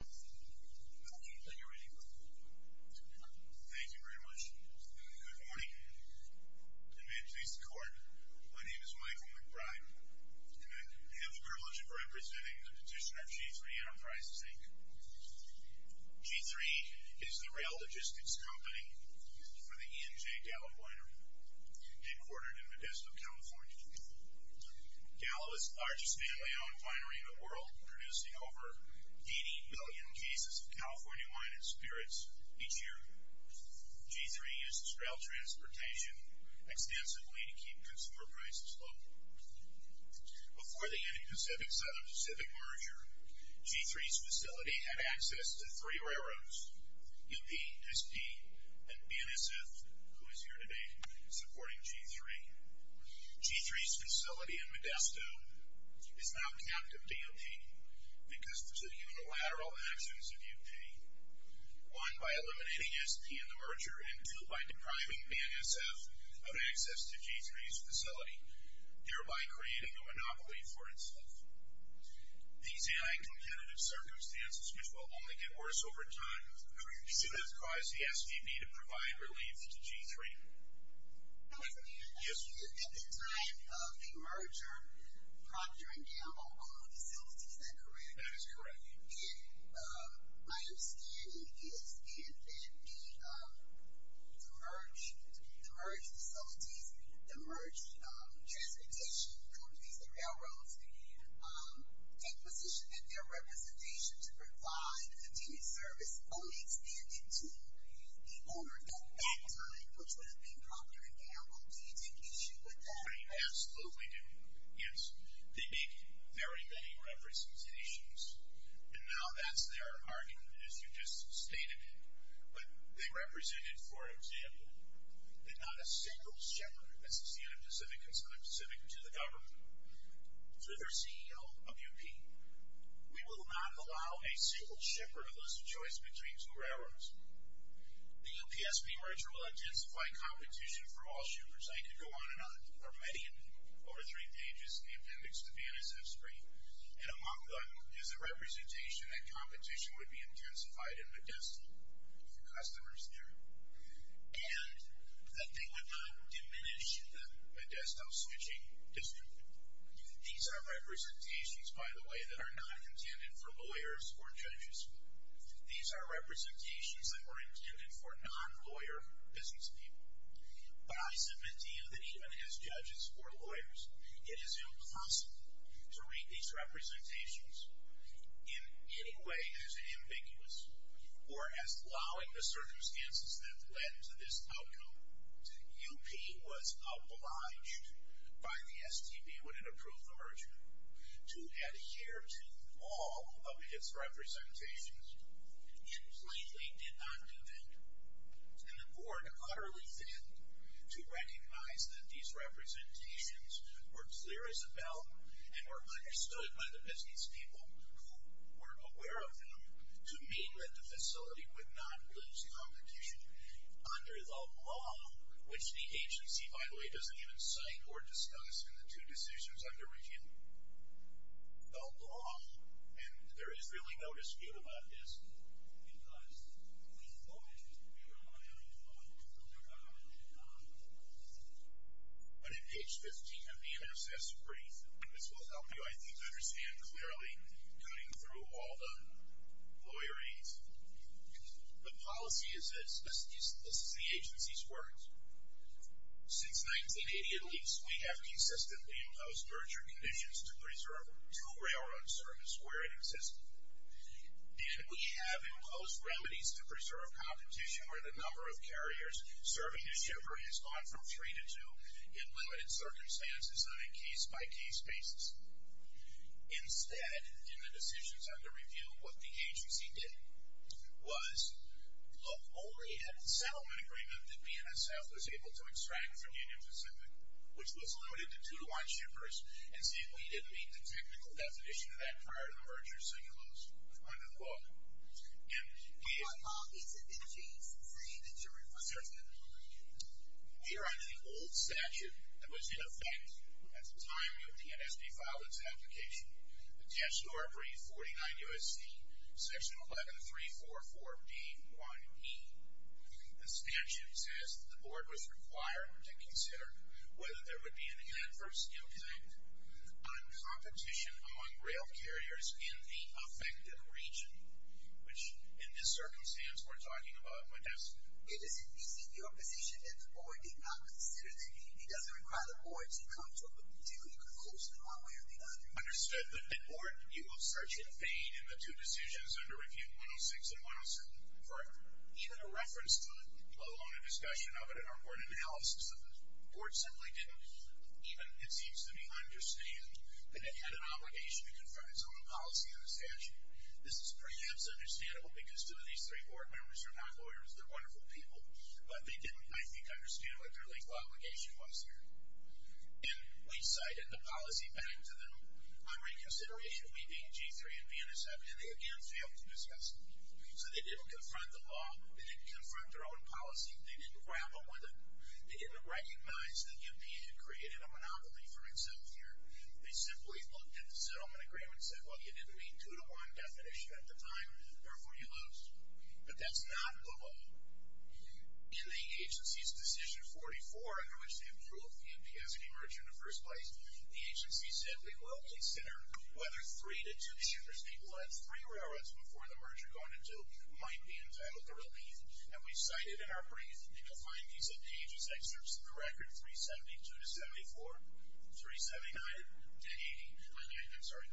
Thank you very much. Good morning, and may it please the court, my name is Michael McBride, and I have the privilege of representing the petitioner of G3 Enterprises, Inc. G3 is the rail logistics company for the ENJ Gallup liner, headquartered in Modesto, California. Gallup is the largest family-owned winery in the world, producing over 80 billion cases of California wine and spirits each year. G3 uses rail transportation extensively to keep consumer prices low. Before the Indo-Pacific-Southern Pacific merger, G3's facility had access to three railroads, UP, SP, and BNSF, who is here today supporting G3. G3's facility in Modesto is now captive to UP because of two unilateral actions of UP. One, by eliminating SP in the merger, and two, by depriving BNSF of access to G3's facility, thereby creating a monopoly for itself. These anti-competitive circumstances will only get worse over time. Who do you consider to cause the SPB to provide relief to G3? I was going to ask you, at the time of the merger, Procter & Gamble owned the facility, is that correct? That is correct. My understanding is, if the merged facilities, the merged transportation companies and railroads, take position that their representation to provide continued service only extended to the owner, at that time, which would have been Procter & Gamble, do you take issue with that? I absolutely do, yes. They make very many representations. And now that's their argument, as you just stated it. But they represented, for example, that not a single shipper, this is the end of the civic concern, specific to the government, through their CEO, UP, we will not allow a single shipper of this choice between two railroads. The UP-SP merger will intensify competition for all shippers. I could go on and on for many, over three pages in the appendix to the NSF spree. And among them is a representation that competition would be intensified in Modesto for customers there. And that they would not diminish the Modesto switching dispute. These are representations, by the way, that are not intended for lawyers or judges. These are representations that were intended for non-lawyer business people. But I submit to you that even as judges or lawyers, it is impossible to read these representations in any way as ambiguous or as allowing the circumstances that led to this outcome. UP was obliged by the STP when it approved the merger to adhere to all of its representations. It blatantly did not do that. And the board utterly failed to recognize that these representations were clear as a bell and were understood by the business people who were aware of them to mean that the facility would not lose competition under the law, which the agency, by the way, doesn't even cite or discuss in the two decisions under review. The law, and there is really no dispute about this, because we voted, we are not going to vote on the merger. But at page 15 of the MSS brief, this will help you, I think, understand clearly cutting through all the lawyerese. The policy is this. This is the agency's words. Since 1980, at least, we have consistently imposed merger conditions to preserve two railroad services where it existed. And we have imposed remedies to preserve competition where the number of carriers serving a shipper has gone from three to two in limited circumstances on a case-by-case basis. Instead, in the decisions under review, what the agency did was look only at the settlement agreement that BNSF was able to extract from Union Pacific, which was limited to two-to-one shippers, and simply didn't meet the technical definition of that prior to the merger, so you lose under the law. And we are on the old statute that was in effect at the time of the NSD file its application, the text to our brief, 49 U.S.C., section 11344B1E. The statute says the board was required to consider whether there would be an adverse impact on competition among rail carriers in the affected region, which in this circumstance we're talking about Modesto. It is in your position that the board did not consider the need. It doesn't require the board to come to a particular conclusion one way or the other. Understood. The board, you will search in vain in the two decisions under Review 106 and 107 for even a reference to it, let alone a discussion of it in our board analysis of it. The board simply didn't even, it seems to me, understand that it had an obligation to confront its own policy on the statute. This is perhaps understandable because two of these three board members are not lawyers. They're wonderful people, but they didn't, I think, understand what their legal obligation was here. And we cited the policy back to them on reconsideration of meeting G3 in Vienna 7, and they again failed to discuss it. So they didn't confront the law. They didn't confront their own policy. They didn't grapple with it. They didn't recognize that the MP had created a monopoly for itself here. They simply looked at the settlement agreement and said, well, you didn't meet two-to-one definition at the time, therefore you lose. But that's not the law. In the agency's decision 44, under which they approved the MPSB merger in the first place, the agency said we will consider whether three-to-two shippers, people who had three railroads before the merger gone into, might be entitled to relief. And we cited in our brief and defined these on pages, excerpts of the record, 372-74, 379 and 80. I'm sorry,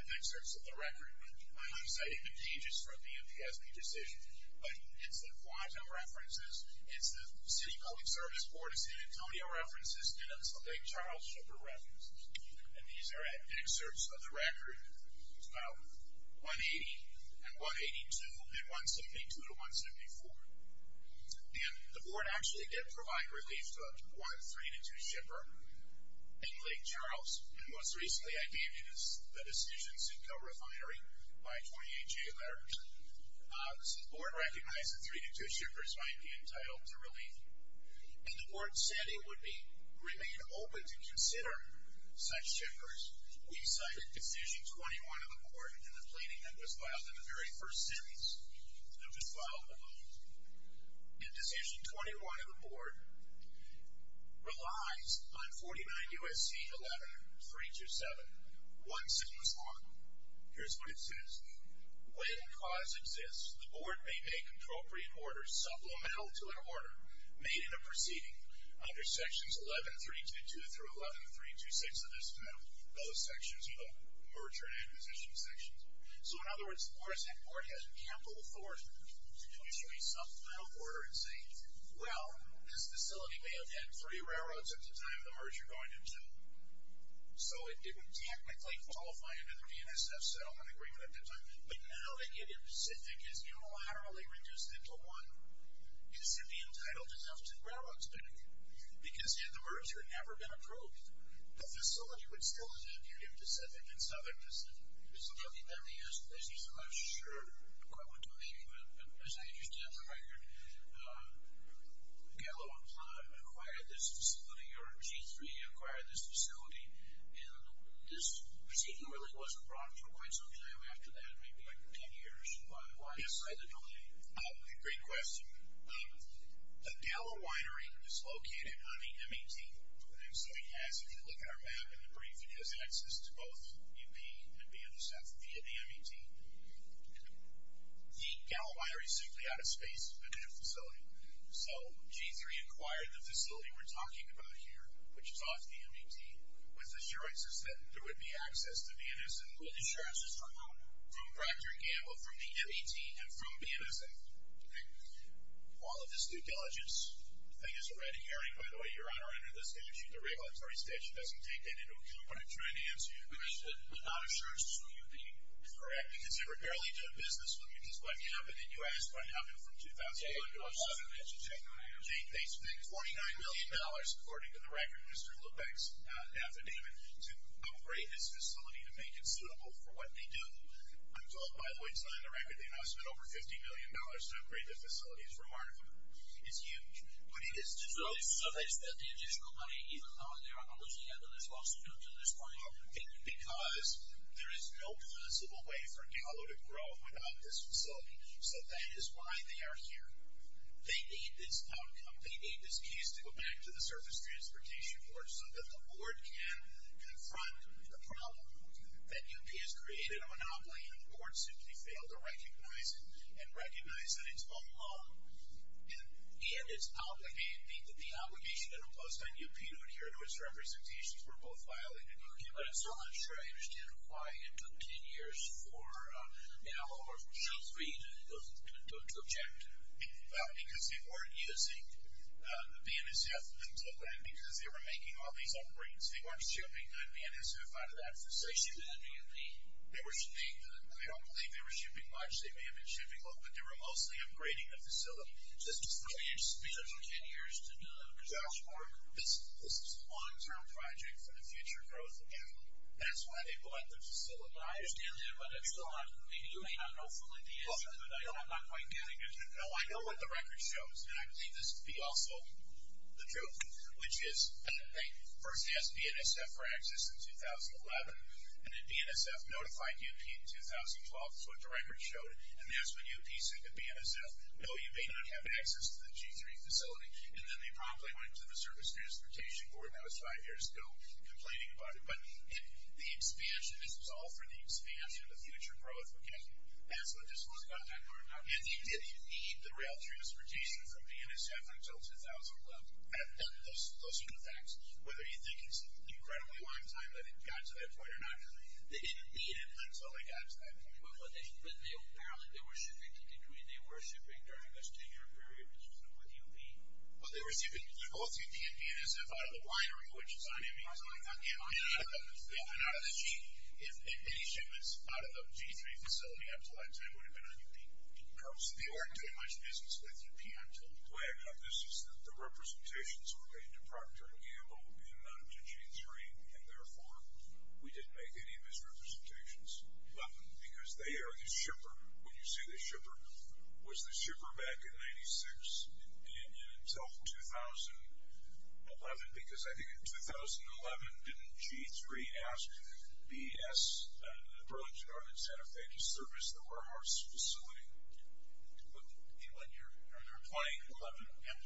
excerpts of the record, but I'm not citing the pages from the MPSB decision. But it's the Guantanamo references, it's the City Public Service Board of San Antonio references, and it's the Lake Charles shipper reference. And these are excerpts of the record, 180 and 182, and 172-174. And the board actually did provide relief to up to one three-to-two shipper in Lake Charles, and most recently I gave you the decisions in co-refinery by 28 J. Larry. The board recognized that three-to-two shippers might be entitled to relief, and the board said it would remain open to consider such shippers. We cited Decision 21 of the board in the planning that was filed in the very first sentence, and it was filed alone. And Decision 21 of the board relies on 49 U.S.C. 11-327. One single spot. Here's what it says. When cause exists, the board may make appropriate orders supplemental to an order made in a proceeding under sections 11-322 through 11-326 of this bill. Those sections are the merger and acquisition sections. So in other words, the water tech board has capital authority to issue a supplemental order and say, well, this facility may have had three railroads at the time of the merger going into it. So it would technically qualify under the VNSF settlement agreement at the time, but now that Indian Pacific is unilaterally reduced into one, it should be entitled to the South Pacific Railroad spending. Because had the merger never been approved, the facility would still have been Indian Pacific and Southern Pacific. I'm not sure quite what to believe, but as I understand the record, Gallo and Plum acquired this facility, or G3 acquired this facility, and this proceeding really wasn't brought up for quite some time after that, maybe like 10 years. Why decide to delay? Great question. The Gallo winery is located on the MAT. If you look at our map in the brief, it has access to both UP and VNSF via the MAT. The Gallo winery is simply out of space of the facility. So G3 acquired the facility we're talking about here, which is off the MAT, with assurances that there would be access to VNSF. What assurances from who? From Procter & Gamble, from the MAT, and from VNSF. All of this due diligence. I guess a red herring, by the way, Your Honor, under the statute, the regulatory statute doesn't take that into account. What I'm trying to answer is the question, but not assurances from UP. Correct, because they were barely doing business with you, because what happened in the U.S. what happened from 2004 to 2007? They spent $49 million, according to the record, Mr. Lubeck's affidavit, to upgrade this facility to make it suitable for what they do. I'm told, by the way, it's not in the record, they must have spent over $50 million to upgrade the facility. It's remarkable. It's huge. But it is difficult. So they spent the additional money, even though, in their analogy, they have the responsibility to this point? Because there is no possible way for Dallo to grow without this facility. So that is why they are here. They need this outcome. They need this case to go back to the Surface Transportation Board so that the board can confront the problem that UP has created, a monopoly, and the board simply failed to recognize it and recognize that it's all wrong. And it's obligated, meaning that the obligation imposed on UP to adhere to its representations were both violated by UP. But I'm still not sure I understand why it took 10 years for Dallo or for Su-3 to object. Well, because they weren't using the BNSF until then, because they were making all these upgrades. They weren't shipping the BNSF out of that facility. They were shipping. I don't believe they were shipping much. They may have been shipping a little, but they were mostly upgrading the facility. Just for me, it took 10 years to do that. This is a long-term project for the future growth, and that's why they bought the facility. I understand that, but maybe you may not know fully the answer, but I know I'm not quite getting it. No, I know what the record shows, and I believe this would be also the truth, which is they first asked BNSF for access in 2011, and then BNSF notified UP in 2012. That's what the record showed, and that's when UP said to BNSF, no, you may not have access to the G-3 facility, and then they promptly went to the Service Transportation Board, and that was five years ago, complaining about it. But the expansion, this was all for the expansion of the future growth. Okay, that's what this was about. And you did need the rail transportation from BNSF until 2011. Those are the facts. Whether you think it's an incredibly long time that it got to that point or not, they didn't need it until it got to that point. But apparently they were shifting between, they were shifting during those two-year periods with UP. Well, they were shifting both UP and BNSF out of the winery, which is on MESI, and out of the G, if any shipments out of the G-3 facility up to that time would have been on UP. So they weren't doing much business with UP until 2011. The way I got this is that the representations were made to Procter & Gamble and then to G-3, and, therefore, we didn't make any of those representations. 11, because they are the shipper. When you say the shipper, was the shipper back in 96? And until 2011, because I think in 2011, didn't G-3 ask BS, Burlington, Arlington, Santa Fe, to service the warehouse facility? And when you're applying 11,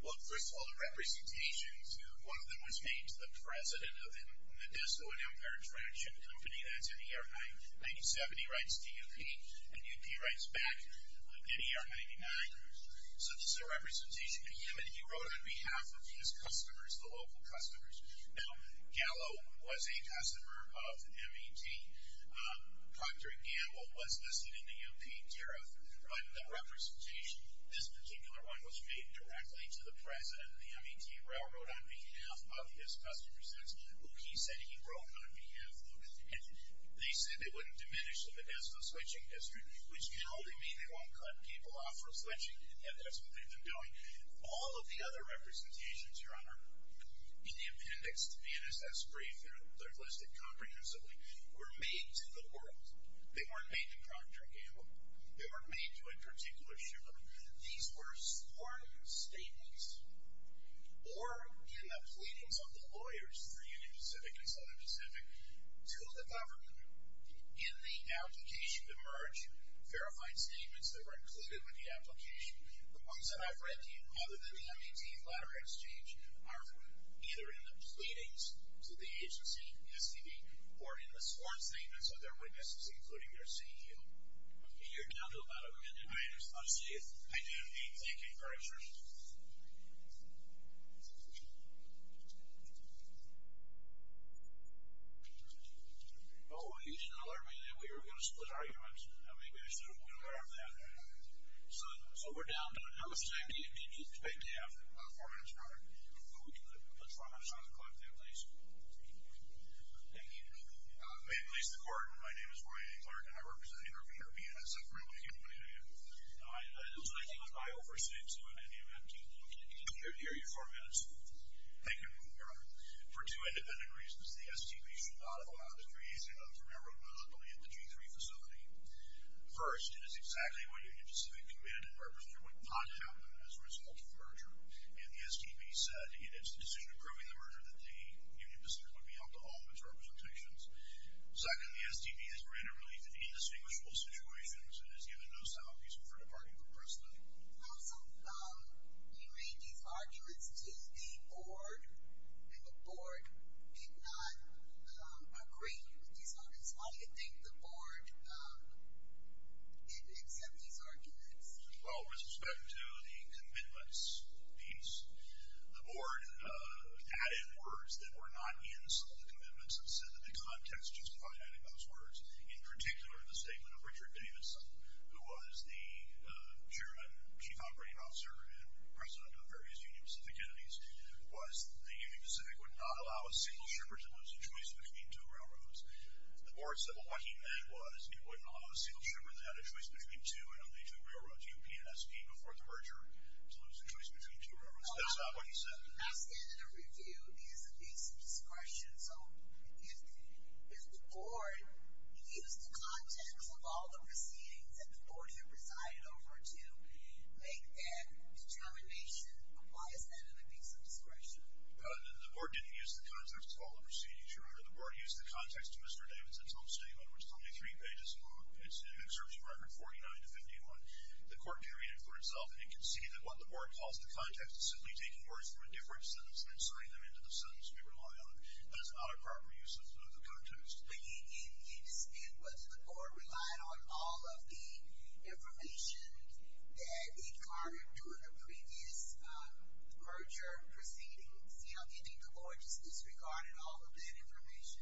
well, first of all, the representations, one of them was made to the president of the Modesto and Empire Traction Company. That's in ER-97. He writes to UP, and UP writes back in ER-99. So this is a representation to him, and he wrote on behalf of his customers, the local customers. Now, Gallo was a customer of MET. Procter & Gamble was listed in the UP tariff. But the representation, this particular one, was made directly to the president of the MET Railroad on behalf of his customers. That's who he said he wrote on behalf of. And they said they wouldn't diminish the Modesto switching district, which can only mean they won't cut people off from switching, and that's what they've been doing. All of the other representations, Your Honor, in the appendix to the NSS brief, they're listed comprehensively, were made to the world. They weren't made to Procter & Gamble. They weren't made to a particular shipment. These were sworn statements, or in the pleadings of the lawyers for Union Pacific and Southern Pacific, to the government. In the application emerge verified statements that were included with the application. The ones that I've read, other than the MET letter exchange, are either in the pleadings to the agency, STD, or in the sworn statements of their witnesses, including their CEO. You're down to about a minute, Your Honor. Let's see it. I do need to take a break, sir. Oh, you should have alerted me that we were going to split arguments. Maybe I should have been aware of that. So we're down to, how much time do you expect to have? About four minutes, Your Honor. We can put four minutes on the clock, then, please. Thank you. May it please the Court, my name is Roy A. Clark, and I represent Intervenor BNSF Railroad Company. I think I overstated, so in any event, you can continue to hear your four minutes. Thank you, Your Honor. For two independent reasons, the STB should not allow the creation of the railroad mobility at the G3 facility. First, it is exactly what Union Pacific committed and represented would not happen as a result of the merger, and the STB said it is the decision approving the merger that the Union Pacific would be allowed to hold its representations. Second, the STB has ran a relief in indistinguishable situations and has given no sound pieces for departing from Preston. How some of these arguments to the Board, and the Board did not agree with these arguments. Why do you think the Board didn't accept these arguments? Well, with respect to the commitments piece, the Board added words that were not in some of the commitments and said that the context justified adding those words. In particular, the statement of Richard Davidson, who was the Chairman and Chief Operating Officer and President of various Union Pacific entities, was that the Union Pacific would not allow a single shipper to lose a choice between two railroads. The Board said what he meant was it wouldn't allow a single shipper that had a choice between two and only two railroads, UPNSP, before the merger to lose a choice between two railroads. That's not what he said. My standard of review is a piece of discretion. So if the Board used the context of all the proceedings that the Board here presided over to make that determination, why is that in a piece of discretion? The Board didn't use the context of all the proceedings, Your Honor. The Board used the context of Mr. Davidson's own statement, which is only three pages long. It serves a record 49 to 51. The Court carried it for itself and conceded that what the Board calls the context is simply taking words from a different sentence and inserting them into the sentence we rely on. That is not a proper use of the context. But you didn't understand whether the Board relied on all of the information that it garnered during the previous merger proceedings. Do you think the Board just disregarded all of that information?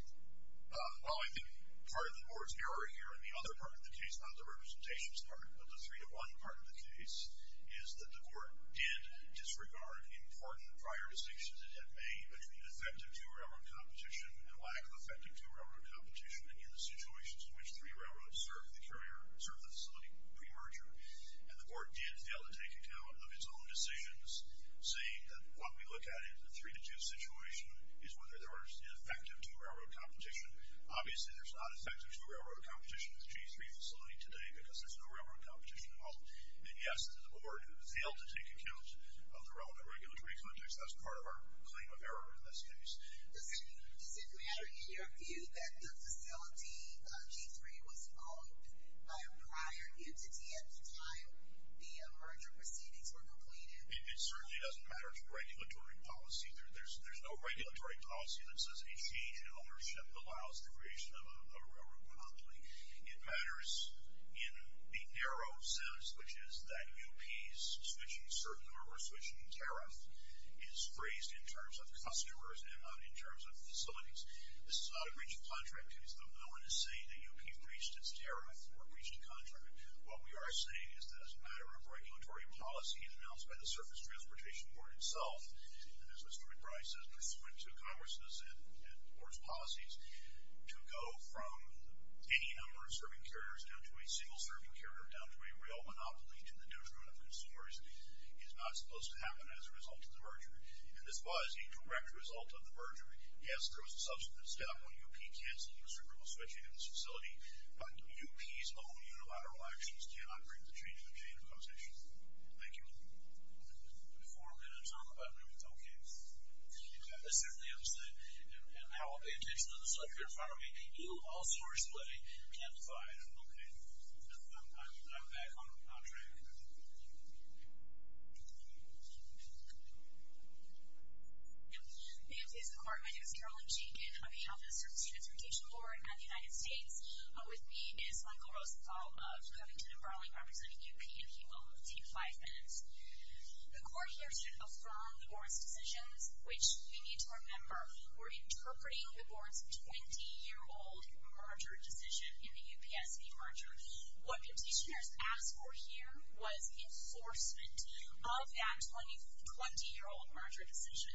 Well, I think part of the Board's error here, and the other part of the case, not the Representation's part, but the three-to-one part of the case, is that the Court did disregard important prior decisions it had made between effective two-railroad competition and lack of effective two-railroad competition in the situations in which three railroads serve the facility pre-merger. And the Court did fail to take account of its own decisions, saying that what we look at in the three-to-two situation is whether there was an effective two-railroad competition. Obviously, there's not effective two-railroad competition in the G3 facility today because there's no railroad competition at all. And yes, the Board failed to take account of the relevant regulatory context. That's part of our claim of error in this case. Does it matter in your view that the facility, G3, was owned by a prior entity at the time the merger proceedings were completed? It certainly doesn't matter to regulatory policy. There's no regulatory policy that says a change in ownership allows the creation of a railroad company. It matters in the narrow sense, which is that U.P.'s switching certain or reswitching tariff is phrased in terms of customers and not in terms of facilities. This is not a breach of contract case, though no one is saying that U.P. breached its tariff or breached a contract. What we are saying is that as a matter of regulatory policy and announced by the Surface Transportation Board itself, and as Mr. McBride says, pursuant to Congress' and the Board's policies, to go from any number of serving carriers down to a single-serving carrier, down to a rail monopoly, to the detriment of consumers, is not supposed to happen as a result of the merger. And this was a direct result of the merger. Yes, there was a subsequent step when U.P. canceled the restrictible switching of this facility, but U.P.'s own unilateral actions cannot bring the change in the chain of conversation. Thank you. We have four minutes on the button. Okay. I certainly understand. And now I'll pay attention to the selector in front of me. He will also respond and clarify it. Okay. I'm back on track. May I please have the floor? My name is Carolyn Jenkins. I'm with the Office of the Surface Transportation Board and the United States. With me is Michael Rosenthal of Covington & Burling, representing U.P., and he will take five minutes. The court here should affirm the board's decisions, which we need to remember. We're interpreting the board's 20-year-old merger decision in the UPSC merger. What petitioners asked for here was enforcement of that 20-year-old merger decision.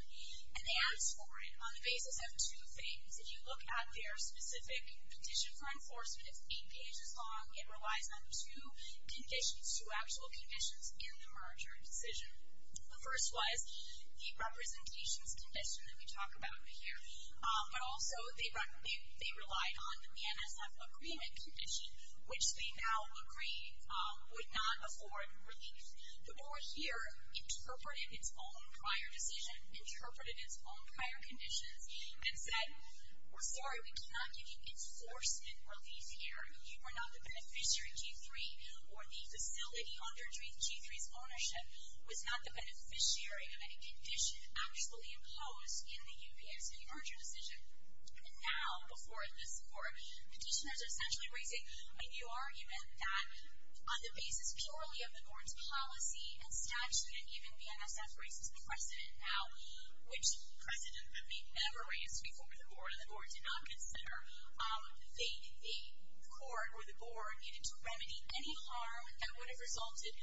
And they asked for it on the basis of two things. If you look at their specific petition for enforcement, it's eight pages long. It relies on two conditions, two actual conditions in the merger decision. The first was the representations condition that we talk about here. But also they relied on the NSF agreement condition, which they now agree would not afford relief. The board here interpreted its own prior decision, interpreted its own prior conditions, and said, we're sorry, we cannot give you enforcement relief here. You are not the beneficiary, G3, or the facility under G3's ownership was not the beneficiary of any condition actually imposed in the UPSC merger decision. And now, before this court, petitioners are essentially raising a new argument that on the basis purely of the board's policy and statute, and even the NSF raises the precedent now, which precedent that we never raised before, and the board did not consider, the court or the board needed to remedy any harm that would have resulted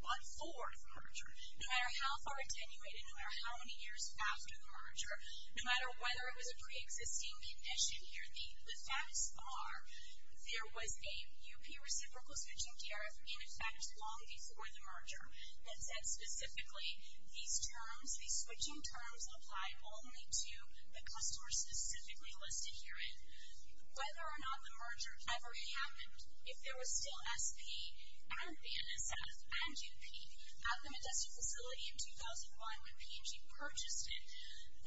before the merger. No matter how far attenuated, no matter how many years after the merger, no matter whether it was a pre-existing condition here, the facts are there was a UP reciprocal switching DRF in effect long before the merger that said specifically these terms, apply only to the customers specifically listed herein. Whether or not the merger ever happened, if there was still SP and the NSF and UP at the Modesto facility in 2001 when P&G purchased it,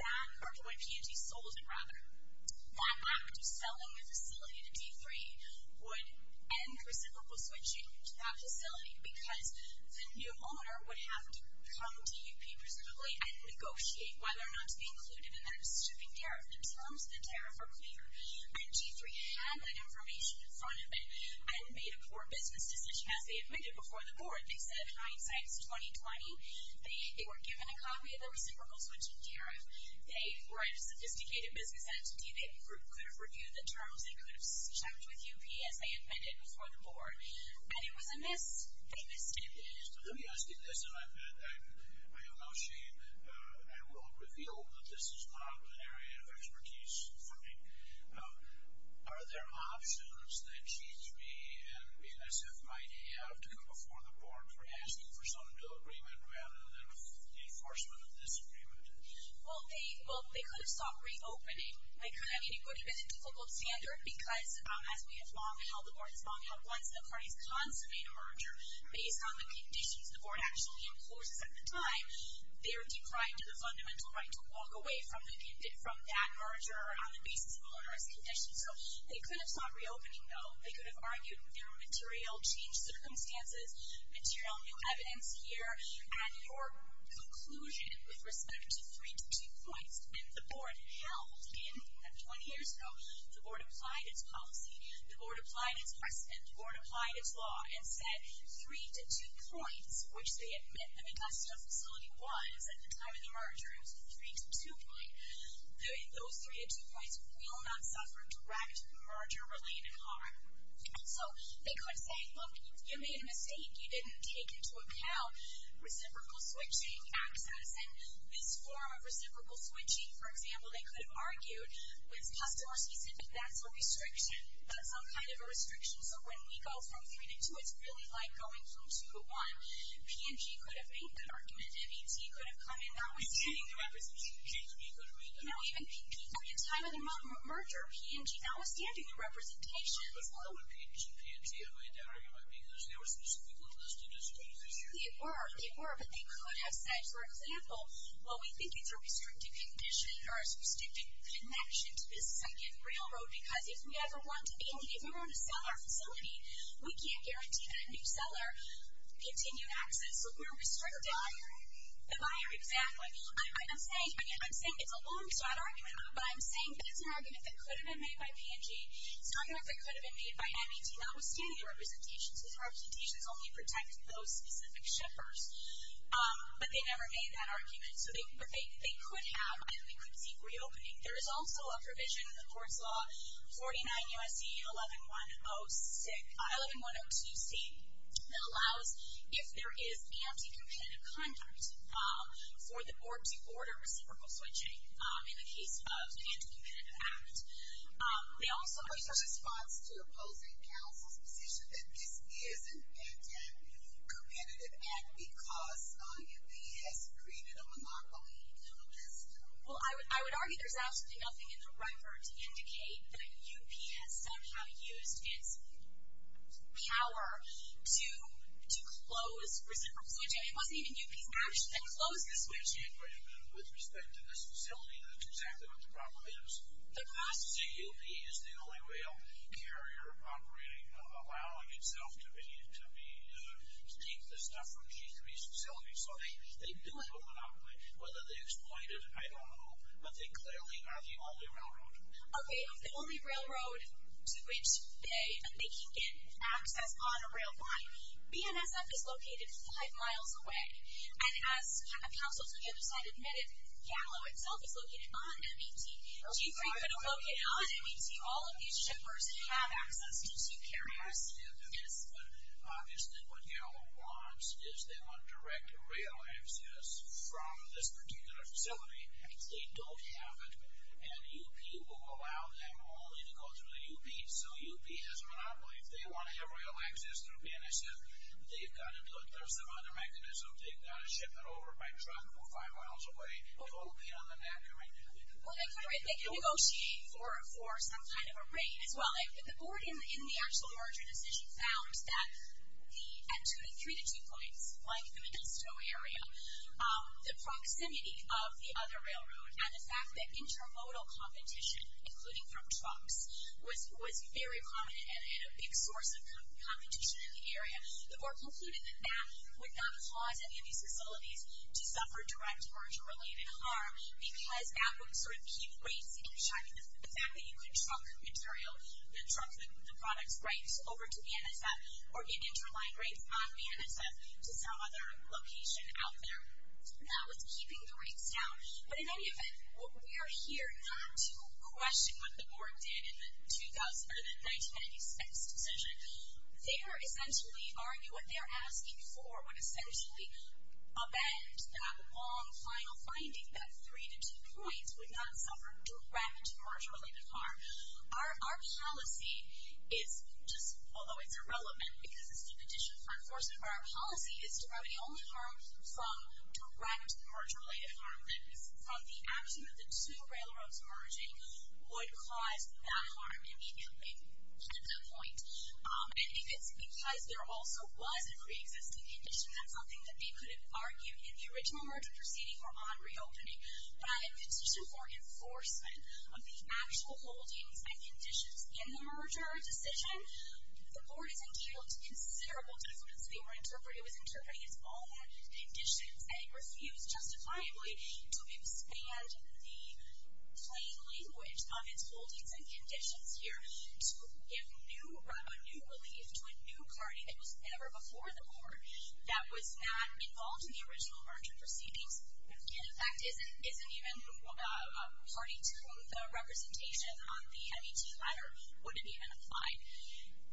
or when P&G sold it rather, that act of selling the facility to D3 would end reciprocal switching to that facility because the new owner would have to come to UP and negotiate whether or not to be included in that stripping DRF. The terms of the DRF are clear, and D3 had that information in front of it and made a poor business decision as they admitted before the board. They said hindsight is 20-20. They were given a copy of the reciprocal switching DRF. They were a sophisticated business entity. They could have reviewed the terms. They could have switched out with UP as they admitted before the board, and it was a miss. They missed it. Let me ask you this, and I have no shame. I will reveal that this is not an area of expertise for me. Are there options that she, me, and NSF might have to come before the board for asking for some new agreement rather than enforcement of this agreement? Well, they could have stopped reopening. It could have been a good, difficult standard because as we have long held the board, as long held one, as the parties consummate a merger based on the conditions the board actually enforces at the time, they're decrying to the fundamental right to walk away from that merger on the basis of a law-enforcement condition. So they could have stopped reopening, though. They could have argued their material change circumstances, material new evidence here. At your conclusion with respect to 322 points, when the board held in that 20 years ago, the board applied its policy, the board applied its price, and the board applied its law and said 3 to 2 points, which they admit, I mean, that's what a facility was at the time of the merger. It was a 3 to 2 point. Those 3 to 2 points will not suffer direct merger-related harm. And so they could have said, look, you made a mistake. You didn't take into account reciprocal switching access. And this form of reciprocal switching, for example, they could have argued was customer-specific. That's a restriction. That's some kind of a restriction. So when we go from 3 to 2, it's really like going from 2 to 1. P&G could have made that argument. MET could have come in. That was standing the representation. Even PP, at the time of the merger, P&G, that was standing the representation. I don't know what PP's and P&G have had to argue about, because they were specifically listed as a group. They were, but they could have said, for example, well, we think it's a restricted condition or a restricted connection to this second railroad, because if we ever want to sell our facility, we can't guarantee that a new seller can continue access. Look, we're restricted. The buyer. The buyer, exactly. I'm saying it's a long-shot argument, but I'm saying that it's an argument that could have been made by P&G. It's not an argument that could have been made by MET. That was standing the representation, since representations only protect those specific shippers. But they never made that argument. But they could have, and they could seek reopening. There is also a provision in the court's law, 49 U.S.C. 11102C, that allows if there is anti-competitive conduct for the board to order reciprocal switching in the case of an anti-competitive act. There's a response to opposing counsel's position that this is an anti-competitive act because MET has created a monopoly on this. Well, I would argue there's absolutely nothing in the record to indicate that U.P. has somehow used its power to close reciprocal switching. It wasn't even U.P.'s match that closed this switch. With respect to this facility, that's exactly what the problem is. The U.P. is the only real carrier operating, allowing itself to be, to take the stuff from G3's facility. So they do have a monopoly, whether they exploit it, I don't know, but they clearly are the only railroad. Okay, the only railroad to which they can get access on a rail line. BNSF is located five miles away, and as counsel said the other side admitted, YALO itself is located on MET. G3 could locate on MET all of these shippers who have access to two carriers. Yes, but obviously what YALO wants is they want direct rail access from this particular facility. If they don't have it, then U.P. will allow them only to go through the U.P. So U.P. has a monopoly. If they want to have rail access through BNSF, they've got to, there's some other mechanism, they've got to ship it over by truck from five miles away. It won't be on the network. Well, they could negotiate for some kind of a rate as well. The board in the actual merger decision found that at two to three to two points, like the Modesto area, the proximity of the other railroad and the fact that intermodal competition, including from trucks, was very prominent and a big source of competition in the area. The board concluded that that would not cause any of these facilities to suffer direct merger-related harm because that would sort of keep rates in check. The fact that you could truck material, that truck the product's rights over to BNSF or get interline rates on BNSF to some other location out there, that was keeping the rates down. But in any event, we are here not to question what the board did in the 1996 decision. They are essentially arguing what they are asking for would essentially amend that long final finding that three to two points would not suffer direct merger-related harm. Our policy is, although it's irrelevant because it's a condition for enforcement, but our policy is to provide the only harm from direct merger-related harm, that is from the action of the two railroads merging, would cause that harm immediately at that point. And if it's because there also was a pre-existing condition, that's something that they could have argued in the original merger proceeding or on reopening. But I have petitioned for enforcement of the actual holdings and conditions in the merger decision. The board has endeared considerable documents that they were interpreting. It was interpreting its own conditions and it refused, justifiably, to expand the plain language of its holdings and conditions here to give a new relief to a new party that was never before the board that was not involved in the original merger proceedings. And, in fact, isn't even a party to whom the representation on the MET letter wouldn't even apply.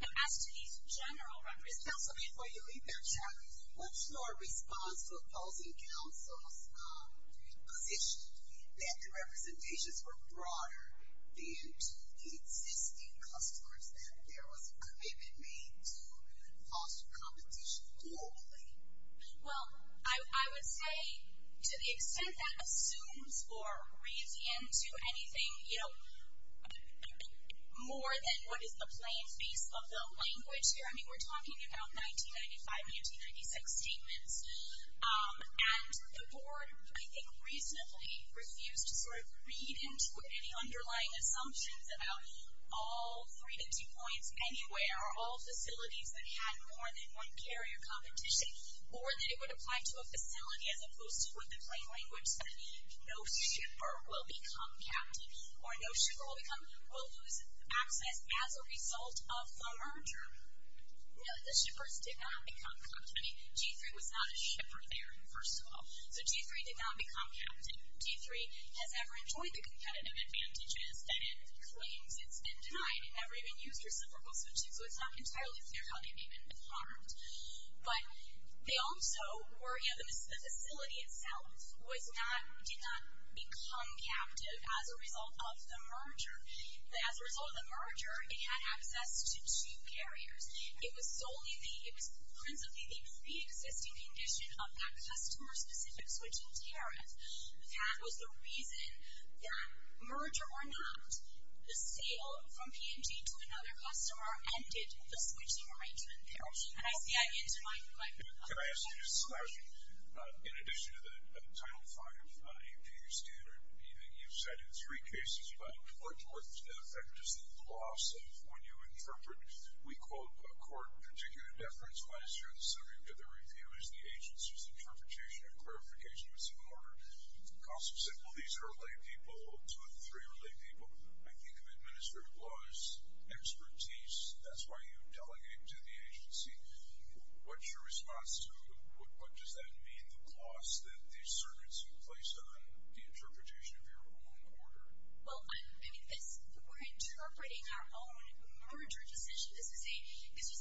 Now, as to these general representations... Councilman, before you leave that chapter, what's your response to opposing counsel's position that the representations were broader than to the existing customers and there was a commitment made to foster competition globally? Well, I would say, to the extent that assumes or reads into anything, you know, more than what is the plain face of the language here. I mean, we're talking about 1995-1996 statements. And the board, I think, reasonably refused to sort of read into any underlying assumptions about all three to two points anywhere that there are all facilities that had more than one carrier competition or that it would apply to a facility as opposed to what the plain language said, no shipper will become captain or no shipper will lose access as a result of the merger. No, the shippers did not become captain. I mean, G3 was not a shipper there, first of all. So G3 did not become captain. G3 has never enjoyed the competitive advantages that it claims it's been denied. They never even used reciprocal switching, so it's not entirely clear how they may have been harmed. But they also were, you know, the facility itself did not become captive as a result of the merger. As a result of the merger, it had access to two carriers. It was solely the, it was principally the pre-existing condition of that customer-specific switching tariff that was the reason that, you know, the P&G to another customer ended the switching arrangement there. And I see that answer my question. Can I ask you a question? In addition to the Title V APU standard, you've cited three cases, but what more effect is the loss of when you interpret, we quote, a court particular deference, why is there in the summary of the review is the agency's interpretation and clarification was in order. Costs said, well, these are laypeople, two or three are laypeople. I think of administrative laws, expertise, that's why you delegate to the agency. What's your response to what does that mean, the cost that these circuits place on the interpretation of your ruling order? Well, I mean, we're interpreting our own merger decision. This is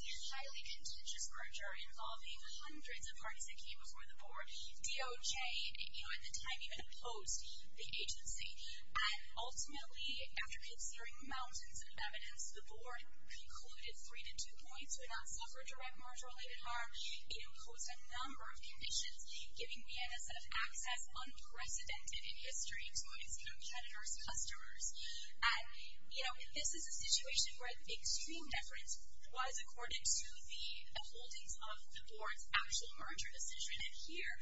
a highly contentious merger involving hundreds of parties that came before the board. DOJ, you know, at the time even opposed the agency. Ultimately, after considering mountains of evidence, the board precluded three to two points would not suffer direct merger-related harm. It imposed a number of conditions, giving me a set of access unprecedented in history to its competitors' customers. You know, this is a situation where extreme deference was accorded to the holdings of the board's actual merger decision. And here,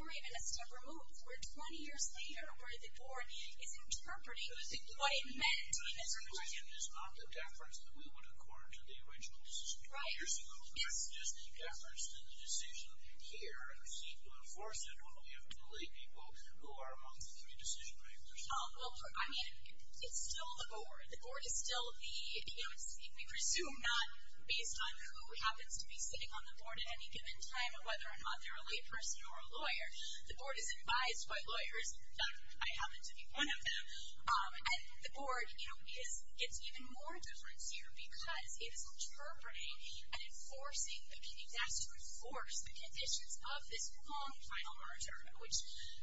we're even a step remote. We're 20 years later, where the board is interpreting what it meant. The decision is not the deference that we would accord to the original decision. Right, yes. We're suggesting deference to the decision here, and we seek to enforce it when we have two laypeople who are among the three decision makers. Well, I mean, it's still the board. The board is still the agency. We presume not based on who happens to be sitting on the board at any given time, or whether or not they're a layperson or a lawyer. The board is advised by lawyers. In fact, I happen to be one of them. And the board, you know, gets even more deference here because it is interpreting and enforcing the meaning. That's to enforce the conditions of this prolonged final merger, which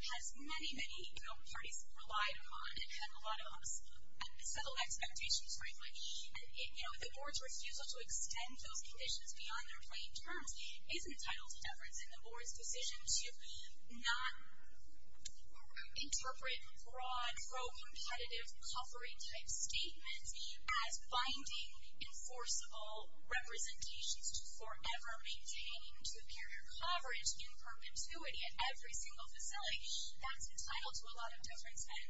has many, many parties have relied upon and had a lot of settled expectations, frankly. And, you know, the board's refusal to extend those conditions beyond their plain terms is entitled to deference. And the board's decision to not interpret broad, pro-competitive, covering-type statements as binding, enforceable representations to forever maintain two-carrier coverage in perpetuity at every single facility, that's entitled to a lot of deference. And,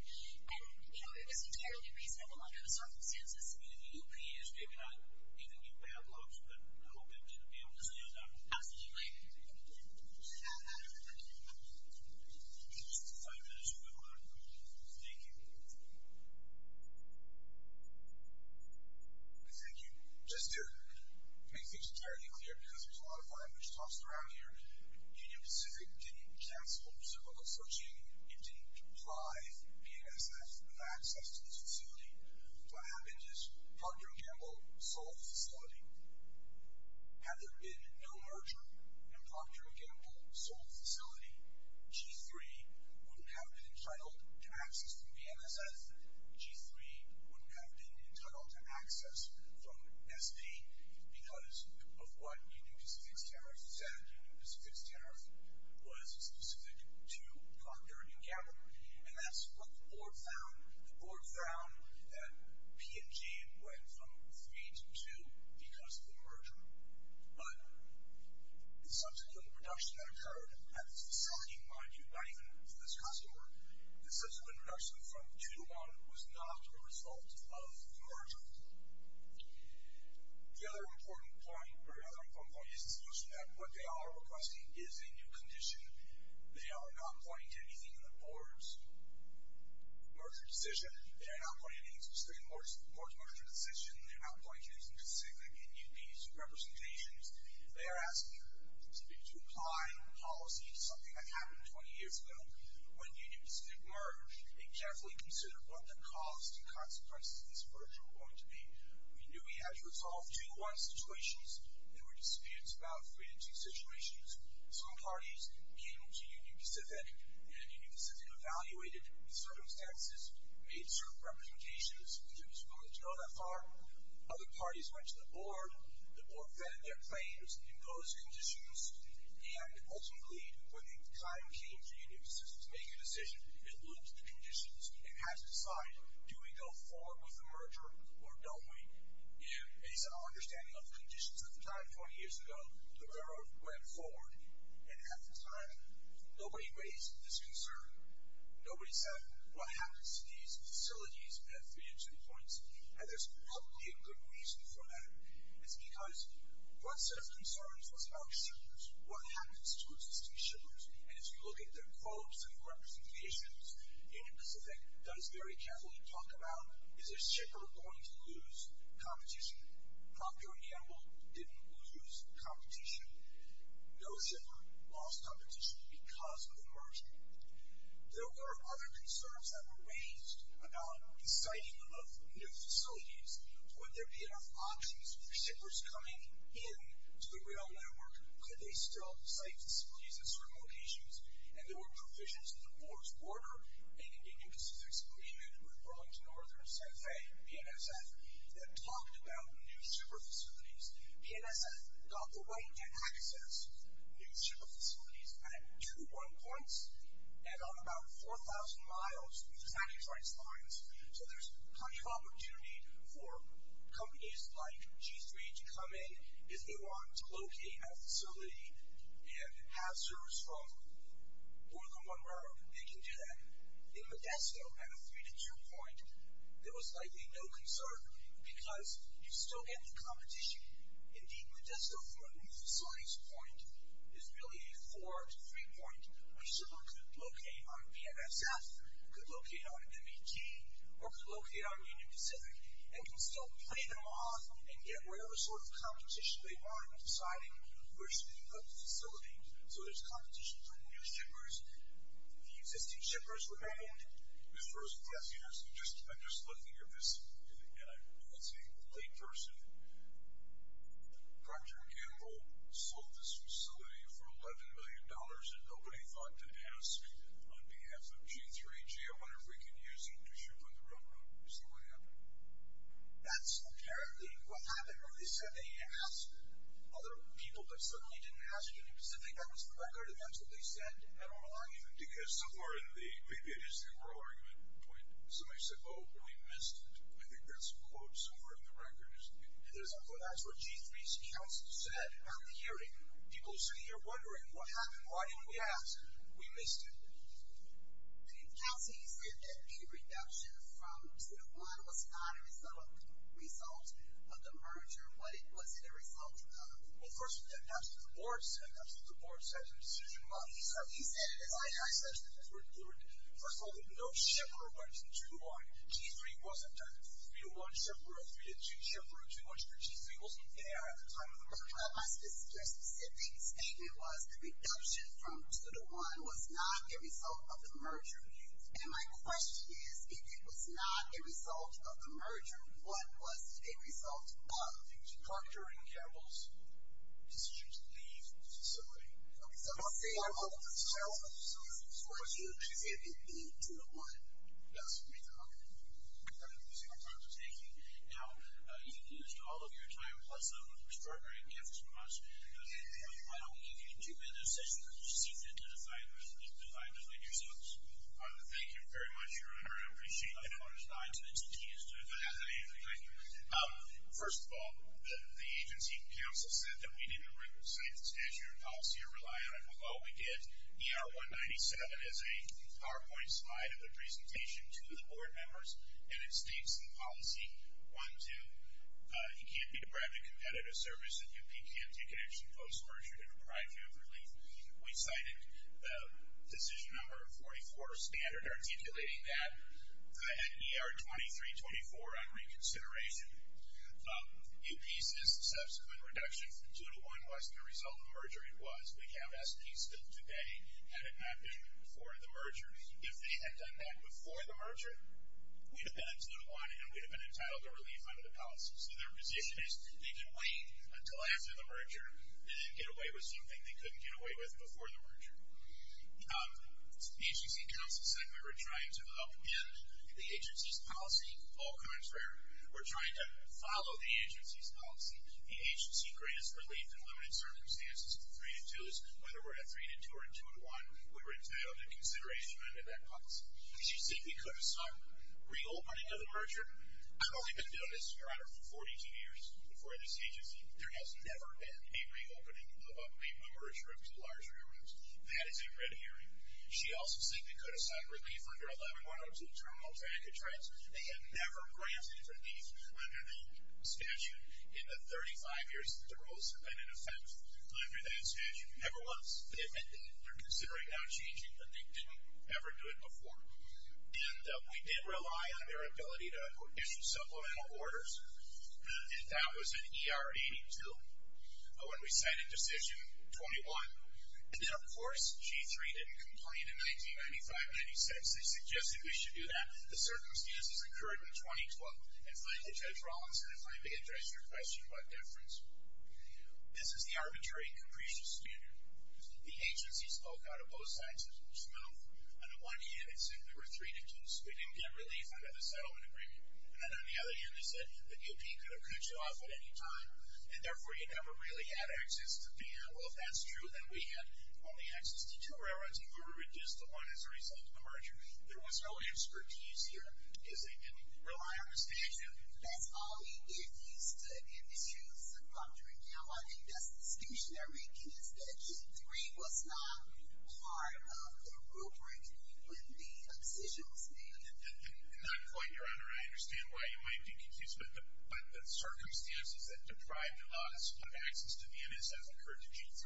you know, it was entirely reasonable under the circumstances. I mean, the UP is, maybe not even you bad blokes, but I hope you'll be able to stay on that path as you leave. We have just five minutes remaining. Thank you. Thank you. Just to make things entirely clear, because there's a lot of language tossed around here, Union Pacific didn't cancel civil association. It didn't apply BASF to access to the facility. What happened is Procter & Gamble sold the facility. Had there been no merger in Procter & Gamble sold the facility, G3 wouldn't have been entitled to access from BMSF. G3 wouldn't have been entitled to access from SP because of what Union Pacific's tariff said. Union Pacific's tariff was specific to Procter & Gamble. And that's what the board found. The board found that P&G went from 3 to 2 because of the merger. But the subsequent reduction that occurred at this facility, mind you, not even for this customer, the subsequent reduction from 2 to 1 was not a result of the merger. The other important point is to note that what they are requesting is a new condition. They are not pointing to anything in the board's merger statement. They are not pointing to anything in the board's merger decision. They are not pointing to anything specific in UP's representations. They are asking to apply policy to something that happened 20 years ago. When Union Pacific merged, they carefully considered what the costs and consequences of this merger were going to be. We knew we had to resolve 2-1 situations. There were disputes about 3-2 situations. Some parties came to Union Pacific, and Union Pacific evaluated the circumstances, made certain representations, because it was willing to go that far. Other parties went to the board. The board vetted their claims in those conditions. And ultimately, when the time came for Union Pacific to make a decision, it looked at the conditions and had to decide, do we go forward with the merger or don't we? And based on our understanding of the conditions at the time 20 years ago, the borough went forward. And at the time, nobody raised this concern. Nobody said, what happens to these facilities at 3 and 2 points? And there's probably a good reason for that. It's because one set of concerns was about shippers. What happens to existing shippers? And if you look at their quotes and representations, Union Pacific does very carefully talk about, is a shipper going to lose competition? Proctor and Gamble didn't lose competition. No shipper lost competition because of the merger. There were other concerns that were raised about the siting of new facilities. Would there be enough options for shippers coming in to the rail network? Could they still site facilities at certain locations? And there were provisions in the board's order, and in Union Pacific's agreement with Burlington Northern and San Fe, PNSF, that talked about new shipper facilities. PNSF got the right to access new shipper facilities at 2 and 1 points, and on about 4,000 miles through the Santa Cruz Rides lines. So there's plenty of opportunity for companies like G3 to come in if they want to locate a facility and have servers from more than one borough that can do that. In Modesto, at a 3 to 2 point, there was likely no concern because you still get the competition. Indeed, Modesto, for a new facility's point, is really a 4 to 3 point where a shipper could locate on PNSF, could locate on MBT, or could locate on Union Pacific and can still play them off and get whatever sort of competition they want in deciding where should they put the facility. So there's competition for new shippers. The existing shippers remained. Yes. I'm just looking at this, and it's a late person. Procter & Gamble sold this facility for $11 million, and nobody thought to ask on behalf of G3, gee, I wonder if we can use it to ship on the road. Is that what happened? That's apparently what happened. They said they asked other people, but suddenly didn't ask Union Pacific. That was the record, and that's what they said. I don't know. Maybe it is the enrollment point. Somebody said, oh, but we missed it. I think there's a quote somewhere in the record. That's what G3's counsel said at the hearing. People are sitting here wondering what happened. Why didn't we ask? We missed it. Counsel, you said that a reduction from 2 to 1 was not a result of the merger. Was it a result of? Well, first of all, that's what the board said. He said it. I said it. First of all, there's no Chevrolet 2 on G3. It wasn't a 3-1 Chevrolet, 3-2 Chevrolet, 2-1 Chevrolet. G3 wasn't there at the time of the merger. My specific statement was a reduction from 2 to 1 was not a result of the merger. And my question is, if it was not a result of the merger, what was a result of? It was Procter and Gamble's decision to leave the facility. Procter and Gamble? Was it a 2-1? Yes. Thank you. Now, you've used all of your time, plus some of the extraordinary gifts from us. Why don't we give you two minutes as you proceed then to define yourselves. Thank you very much, Your Honor. I appreciate that. First of all, the agency counsel said that we didn't write the statute or policy or rely on it. Well, we did. ER-197 is a PowerPoint slide of the presentation to the board members, and it states in policy 1-2, you can't be deprived of competitive service and you can't take action post-merger to deprive you of relief. We cited decision number 44 standard articulating that. And ER-23-24 on reconsideration. In pieces, subsequent reduction from 2-1 was the result of the merger. It was. We can't ask pieces today had it not been before the merger. If they had done that before the merger, we'd have been in 2-1 and we'd have been entitled to relief under the policy. So their position is they can wait until after the merger and get away with something they couldn't get away with before the merger. The agency counsel said we were trying to upend the agency's policy. All contrary. We're trying to follow the agency's policy. The agency's greatest relief in limited circumstances in 3-2 is whether we're at 3-2 or in 2-1, we were entitled to consideration under that policy. She said we could have sought reopening of the merger. I've only been doing this, Your Honor, for 42 years before this agency. There has never been a reopening of a merger of two large rear rooms. That is a red herring. She also said they could have sought relief under 11-102, Terminal Traffic Traffic. They have never granted relief under that statute in the 35 years that the rules have been in effect under that statute. Never once. They're considering now changing, but they didn't ever do it before. And we did rely on their ability to issue supplemental orders, and that was in ER 82 when we cited Decision 21. And then, of course, G3 didn't complain in 1995-96. They suggested we should do that. The circumstances occurred in 2012. And finally, Judge Rawlinson, if I may address your question about deference, this is the arbitrary and capricious standard. The agency spoke out of both sides of the tribunal. On the one hand, it said we were 3-2, so we didn't get relief under the settlement agreement. And then, on the other hand, they said the DOP could have cut you off at any time, and therefore you never really had access to be here. Well, if that's true, then we had only access to two railroads, and we were reduced to one as a result of the merger. There was no expertise here because they didn't rely on the statute. That's all we get used to in this huge subculture. Now, I think that's discussionary because the G3 was not part of the group where the decision was made. Not quite, Your Honor. I understand why you might be confused, but the circumstances that deprived us of access to the NSS occurred to G3.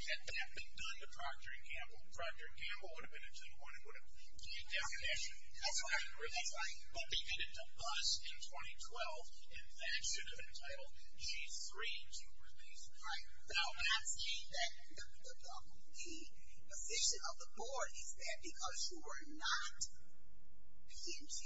Had that been done to Procter & Gamble, Procter & Gamble would have been a 2-1 and would have given you definition. That's right. But they did it to us in 2012, and that should have entitled G3 to relief. Right. Now, I'm not saying that the position of the board is that because you were not P&T,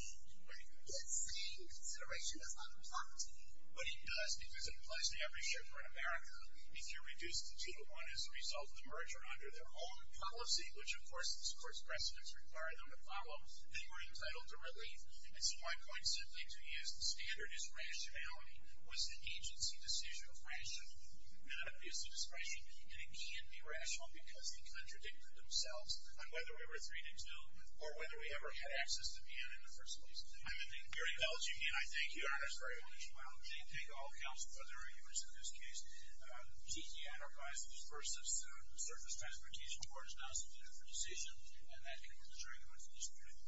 that same consideration does not apply to you. But it does because it applies to every shipper in America if you're reduced to 2-1 as a result of the merger under their own policy, which, of course, this Court's precedents require them to follow, they were entitled to relief. And so I'm going simply to use the standard as rationality was an agency decision of rationality, not abuse of discretion. And it can't be rational because they contradicted themselves on whether we were 3-2 or whether we ever had access to P&N in the first place. I'm ending. Your Honor, as you can, I thank you very much. Well, I thank all the other arguments in this case. The P&T enterprise versus the Surface Transportation Court has now submitted for decision, and that concludes our arguments in this hearing.